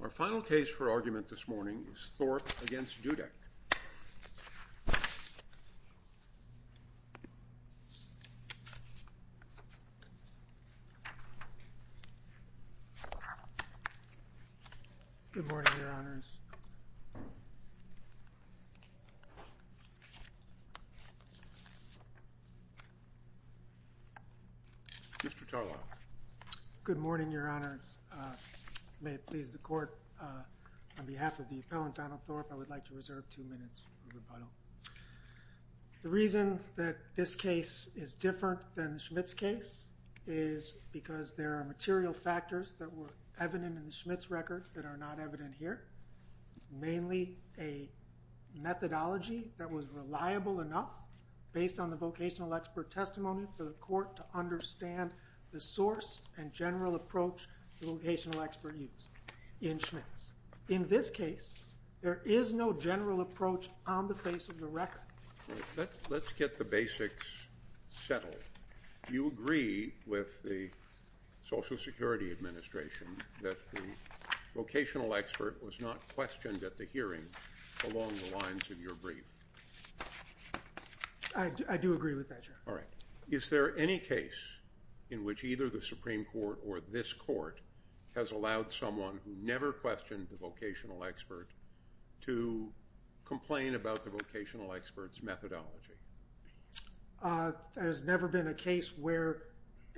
Our final case for argument this morning is Thorpe v. Dudek. Good morning, Your Honors. Mr. Tarloff. Good morning, Your Honors. May it please the Court, on behalf of the appellant Donald Thorpe, I would like to reserve two minutes for rebuttal. The reason that this case is different than the Schmitz case is because there are material factors that were evident in the Schmitz record that are not evident here. Mainly, a methodology that was reliable enough, based on the vocational expert testimony, for the Court to understand the source and general approach the vocational expert used in Schmitz. In this case, there is no general approach on the face of the record. Let's get the basics settled. You agree with the Social Security Administration that the vocational expert was not questioned at the hearing along the lines of your brief? I do agree with that, Your Honor. All right. Is there any case in which either the Supreme Court or this Court has allowed someone who never questioned the vocational expert to complain about the vocational expert's methodology? There has never been a case where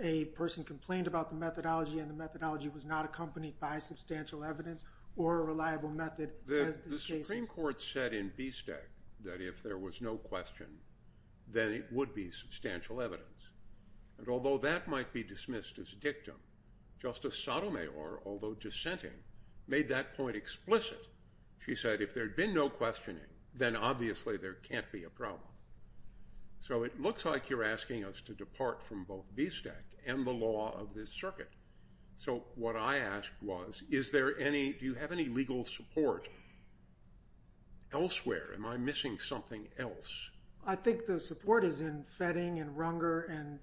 a person complained about the methodology and the methodology was not accompanied by substantial evidence or a reliable method. The Supreme Court said in BSTEC that if there was no question, then it would be substantial evidence. And although that might be dismissed as dictum, Justice Sotomayor, although dissenting, made that point explicit. She said if there had been no questioning, then obviously there can't be a problem. So it looks like you're asking us to depart from both BSTEC and the law of this circuit. So what I asked was, do you have any legal support elsewhere? Am I missing something else? I think the support is in Fetting and Runger and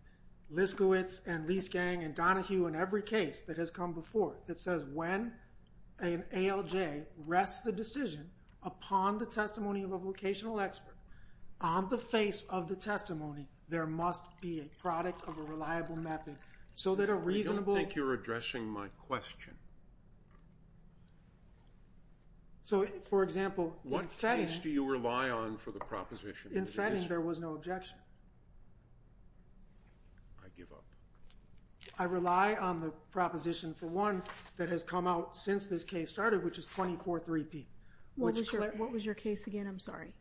Liskowitz and Lieskang and Donahue and every case that has come before that says when an ALJ rests the decision upon the testimony of a vocational expert, on the face of the testimony, there must be a product of a reliable method so that a reasonable... I don't think you're addressing my question. So, for example, in Fetting... What face do you rely on for the proposition? In Fetting, there was no objection. I give up. I rely on the proposition for one that has come out since this case started, which is 24-3P. What was your case again? I'm sorry.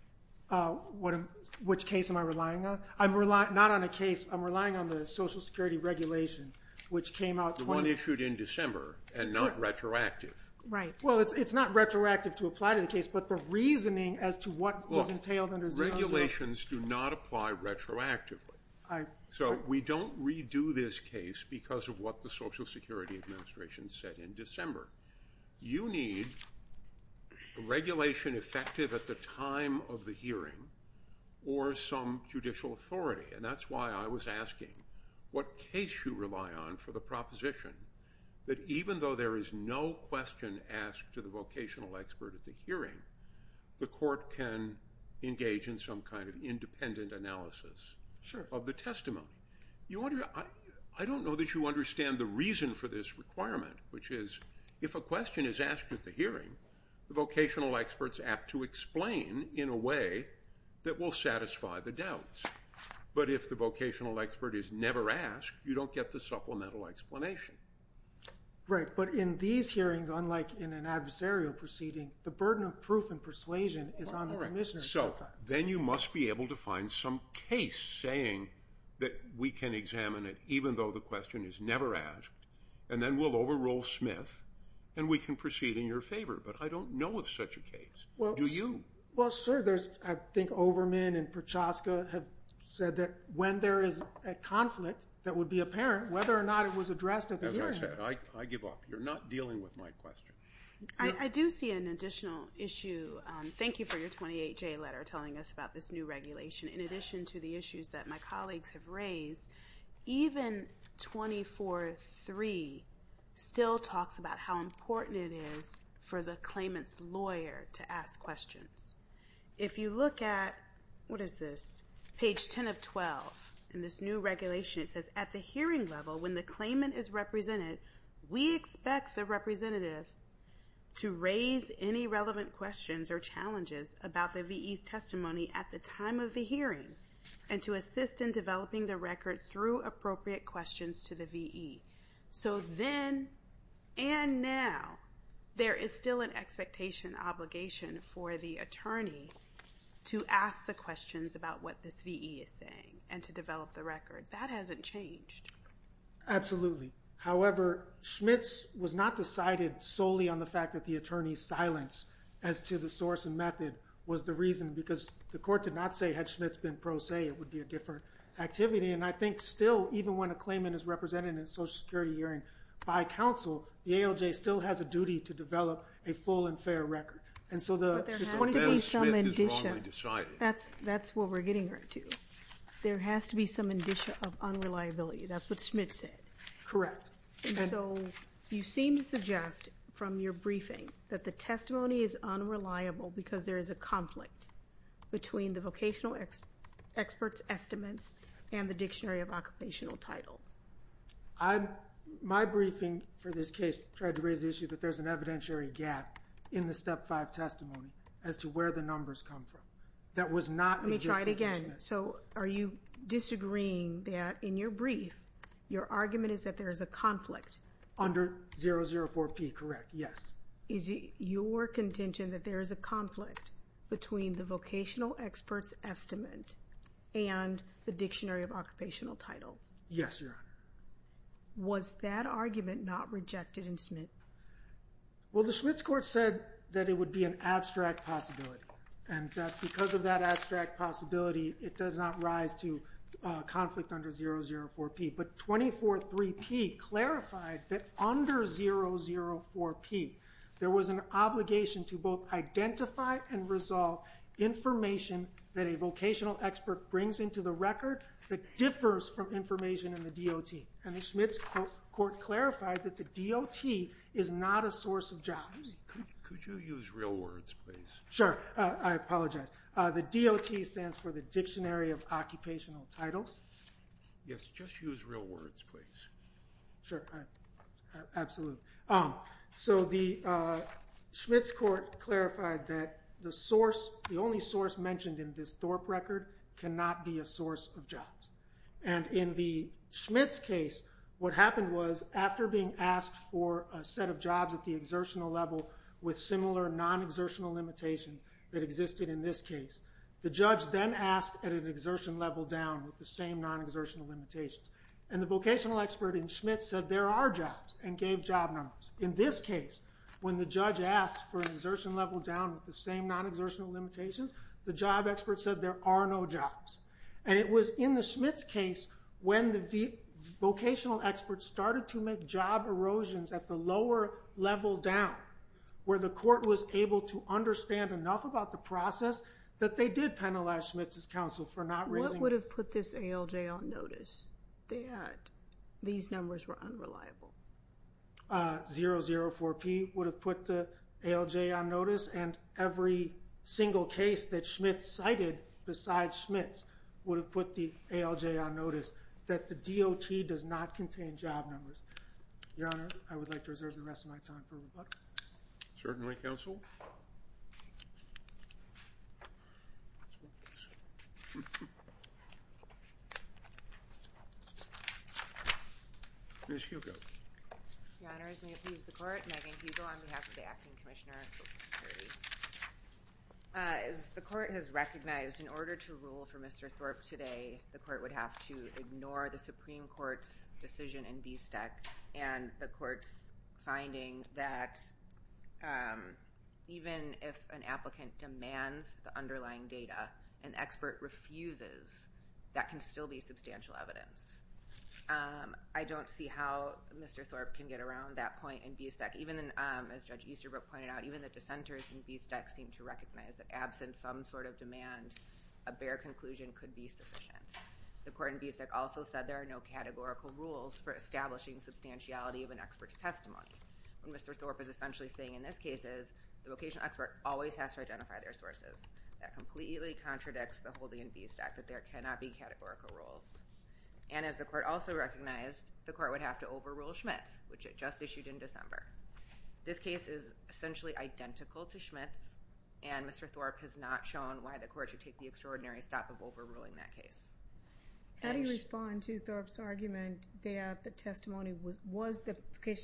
Which case am I relying on? I'm not on a case. I'm relying on the Social Security regulation, which came out... The one issued in December and not retroactive. Right. Well, it's not retroactive to apply to the case, but the reasoning as to what was entailed under... Regulations do not apply retroactively. So we don't redo this case because of what the Social Security Administration said in December. You need regulation effective at the time of the hearing or some judicial authority, and that's why I was asking what case you rely on for the proposition, that even though there is no question asked to the vocational expert at the hearing, the court can engage in some kind of independent analysis of the testimony. I don't know that you understand the reason for this requirement, which is if a question is asked at the hearing, the vocational expert is apt to explain in a way that will satisfy the doubts. But if the vocational expert is never asked, you don't get the supplemental explanation. Right. But in these hearings, unlike in an adversarial proceeding, the burden of proof and persuasion is on the commissioners. So then you must be able to find some case saying that we can examine it, even though the question is never asked, and then we'll overrule Smith, and we can proceed in your favor. But I don't know of such a case. Do you? Well, sir, I think Overman and Prochaska have said that when there is a conflict that would be apparent, whether or not it was addressed at the hearing. As I said, I give up. You're not dealing with my question. I do see an additional issue. Thank you for your 28-J letter telling us about this new regulation. In addition to the issues that my colleagues have raised, even 24-3 still talks about how important it is for the claimant's lawyer to ask questions. If you look at page 10 of 12 in this new regulation, it says, at the hearing level when the claimant is represented, we expect the representative to raise any relevant questions or challenges about the V.E.'s testimony at the time of the hearing and to assist in developing the record through appropriate questions to the V.E. So then and now there is still an expectation obligation for the attorney to ask the questions about what this V.E. is saying and to develop the record. That hasn't changed. Absolutely. However, Schmitz was not decided solely on the fact that the attorney's silence as to the source and method was the reason because the court did not say, had Schmitz been pro se it would be a different activity. And I think still, even when a claimant is represented in a Social Security hearing by counsel, the ALJ still has a duty to develop a full and fair record. But there has to be some indicia. That's what we're getting to. There has to be some indicia of unreliability. That's what Schmitz said. Correct. And so you seem to suggest from your briefing that the testimony is unreliable because there is a conflict between the vocational expert's estimates and the Dictionary of Occupational Titles. My briefing for this case tried to raise the issue that there's an evidentiary gap in the Step 5 testimony as to where the numbers come from. Let me try it again. So are you disagreeing that in your brief your argument is that there is a conflict? Under 004P, correct. Yes. Is your contention that there is a conflict between the vocational expert's estimate and the Dictionary of Occupational Titles? Yes, Your Honor. Was that argument not rejected in Schmitz? Well, the Schmitz court said that it would be an abstract possibility and that because of that abstract possibility it does not rise to conflict under 004P. But 24.3P clarified that under 004P there was an obligation to both identify and resolve information that a vocational expert brings into the record that differs from information in the DOT. And the Schmitz court clarified that the DOT is not a source of jobs. Could you use real words, please? Sure. I apologize. The DOT stands for the Dictionary of Occupational Titles. Yes, just use real words, please. Sure. Absolutely. So the Schmitz court clarified that the only source mentioned in this THORP record cannot be a source of jobs. And in the Schmitz case what happened was after being asked for a set of jobs at the exertional level with similar non-exertional limitations that existed in this case, the judge then asked at an exertion level down with the same non-exertional limitations. And the vocational expert in Schmitz said there are jobs and gave job numbers. In this case, when the judge asked for an exertion level down with the same non-exertional limitations, the job expert said there are no jobs. And it was in the Schmitz case when the vocational expert started to make job erosions at the lower level down where the court was able to understand enough about the process that they did penalize Schmitz's counsel for not raising. What would have put this ALJ on notice that these numbers were unreliable? 004P would have put the ALJ on notice, and every single case that Schmitz cited besides Schmitz would have put the ALJ on notice that the DOT does not contain job numbers. Your Honor, I would like to reserve the rest of my time for rebuttal. Certainly, counsel. Ms. Hugo. Your Honors, may it please the Court. Megan Hugo on behalf of the Acting Commissioner. As the Court has recognized, in order to rule for Mr. Thorpe today, the Court would have to ignore the Supreme Court's decision in BSTEC and the Court's finding that even if an applicant demands the underlying data, an expert refuses, that can still be substantial evidence. I don't see how Mr. Thorpe can get around that point in BSTEC. Even as Judge Easterbrook pointed out, even the dissenters in BSTEC seem to recognize that absent some sort of demand, a bare conclusion could be sufficient. The Court in BSTEC also said there are no categorical rules for establishing substantiality of an expert's testimony. Mr. Thorpe is essentially saying in this case is the vocational expert always has to identify their sources. That completely contradicts the holding in BSTEC that there cannot be categorical rules. And as the Court also recognized, the Court would have to overrule Schmitz, which it just issued in December. This case is essentially identical to Schmitz, and Mr. Thorpe has not shown why the Court should take the extraordinary step of overruling that case. How do you respond to Thorpe's argument that the vocational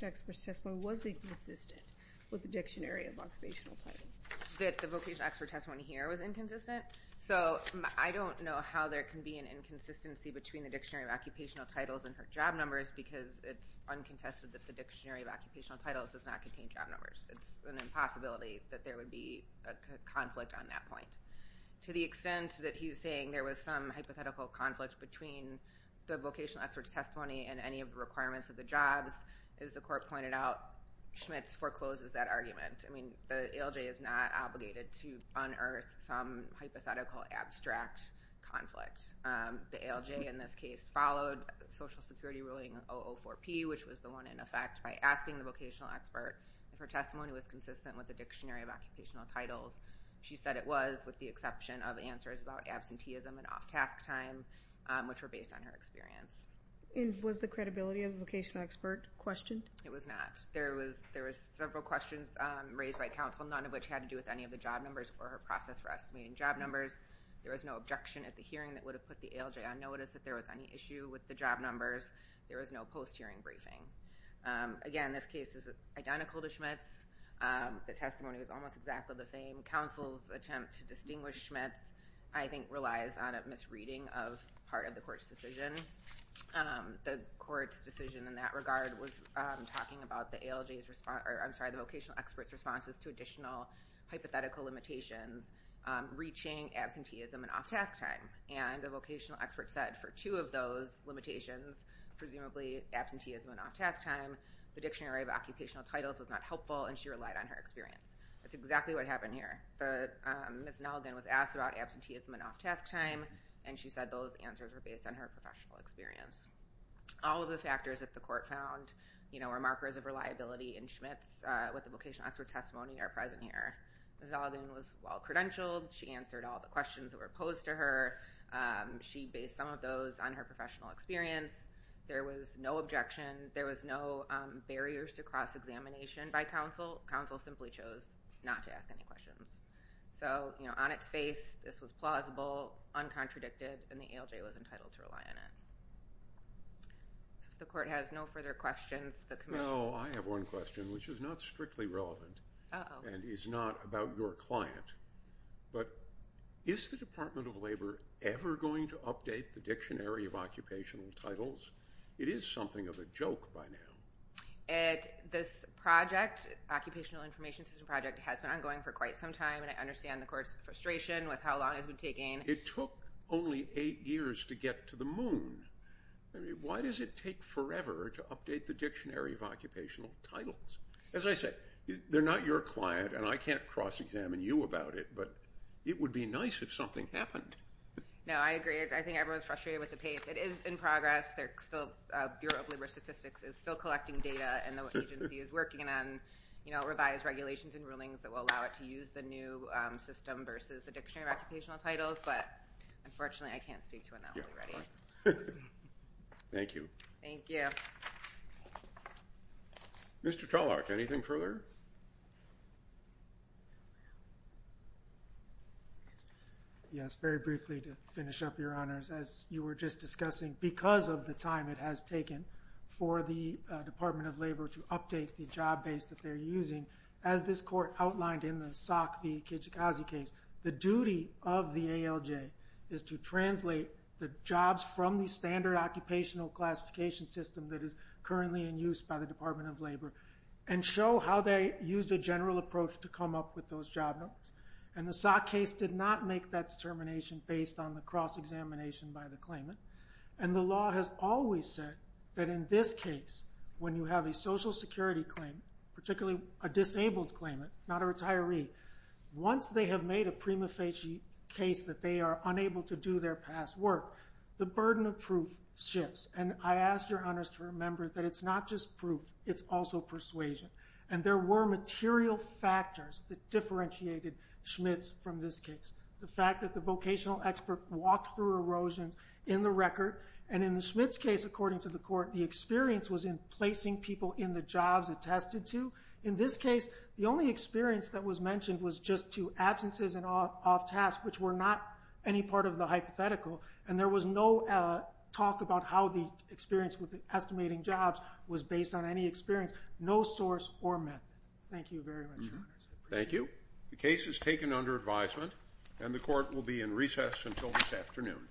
expert's testimony was inconsistent with the Dictionary of Occupational Titles? That the vocational expert's testimony here was inconsistent? I don't know how there can be an inconsistency between the Dictionary of Occupational Titles and her job numbers because it's uncontested that the Dictionary of Occupational Titles does not contain job numbers. It's an impossibility that there would be a conflict on that point. To the extent that he's saying there was some hypothetical conflict between the vocational expert's testimony and any of the requirements of the jobs, as the Court pointed out, Schmitz forecloses that argument. I mean, the ALJ is not obligated to unearth some hypothetical abstract conflict. The ALJ in this case followed Social Security ruling 004P, which was the one in effect, by asking the vocational expert if her testimony was consistent with the Dictionary of Occupational Titles. She said it was, with the exception of answers about absenteeism and off-task time, which were based on her experience. And was the credibility of the vocational expert questioned? It was not. There were several questions raised by counsel, none of which had to do with any of the job numbers or her process for estimating job numbers. There was no objection at the hearing that would have put the ALJ on notice if there was any issue with the job numbers. There was no post-hearing briefing. Again, this case is identical to Schmitz. The testimony was almost exactly the same. Counsel's attempt to distinguish Schmitz, I think, relies on a misreading of part of the Court's decision. The Court's decision in that regard was talking about the ALJ's response or, I'm sorry, the vocational expert's responses to additional hypothetical limitations reaching absenteeism and off-task time. And the vocational expert said for two of those limitations, presumably absenteeism and off-task time, the dictionary of occupational titles was not helpful, and she relied on her experience. That's exactly what happened here. Ms. Nalgan was asked about absenteeism and off-task time, and she said those answers were based on her professional experience. All of the factors that the Court found were markers of reliability in Schmitz with the vocational expert testimony are present here. Ms. Nalgan was well-credentialed. She answered all the questions that were posed to her. She based some of those on her professional experience. There was no objection. There was no barriers to cross-examination by counsel. Counsel simply chose not to ask any questions. So, you know, on its face, this was plausible, uncontradicted, and the ALJ was entitled to rely on it. If the Court has no further questions, the Commission. No, I have one question, which is not strictly relevant and is not about your client, but is the Department of Labor ever going to update the Dictionary of Occupational Titles? It is something of a joke by now. This occupational information system project has been ongoing for quite some time, and I understand the Court's frustration with how long it's been taking. It took only eight years to get to the moon. Why does it take forever to update the Dictionary of Occupational Titles? As I said, they're not your client, and I can't cross-examine you about it, but it would be nice if something happened. No, I agree. I think everyone's frustrated with the pace. It is in progress. The Bureau of Labor Statistics is still collecting data, and the agency is working on revised regulations and rulings that will allow it to use the new system versus the Dictionary of Occupational Titles, but unfortunately I can't speak to it now. Thank you. Thank you. Mr. Tallark, anything further? Yes, very briefly to finish up, Your Honors. As you were just discussing, because of the time it has taken for the Department of Labor to update the job base that they're using, as this Court outlined in the SOC v. Kijikazi case, the duty of the ALJ is to translate the jobs from the standard occupational classification system that is currently in use by the Department of Labor and show how they used a general approach to come up with those job notes. And the SOC case did not make that determination based on the cross-examination by the claimant. And the law has always said that in this case, when you have a Social Security claimant, particularly a disabled claimant, not a retiree, once they have made a prima facie case that they are unable to do their past work, the burden of proof shifts. And I ask Your Honors to remember that it's not just proof. It's also persuasion. And there were material factors that differentiated Schmitz from this case. The fact that the vocational expert walked through erosions in the record, and in the Schmitz case, according to the Court, the experience was in placing people in the jobs attested to. In this case, the only experience that was mentioned was just two absences and off-tasks, which were not any part of the hypothetical. And there was no talk about how the experience with estimating jobs was based on any experience, no source or method. Thank you very much, Your Honors. I appreciate it. Thank you. The case is taken under advisement, and the Court will be in recess until this afternoon.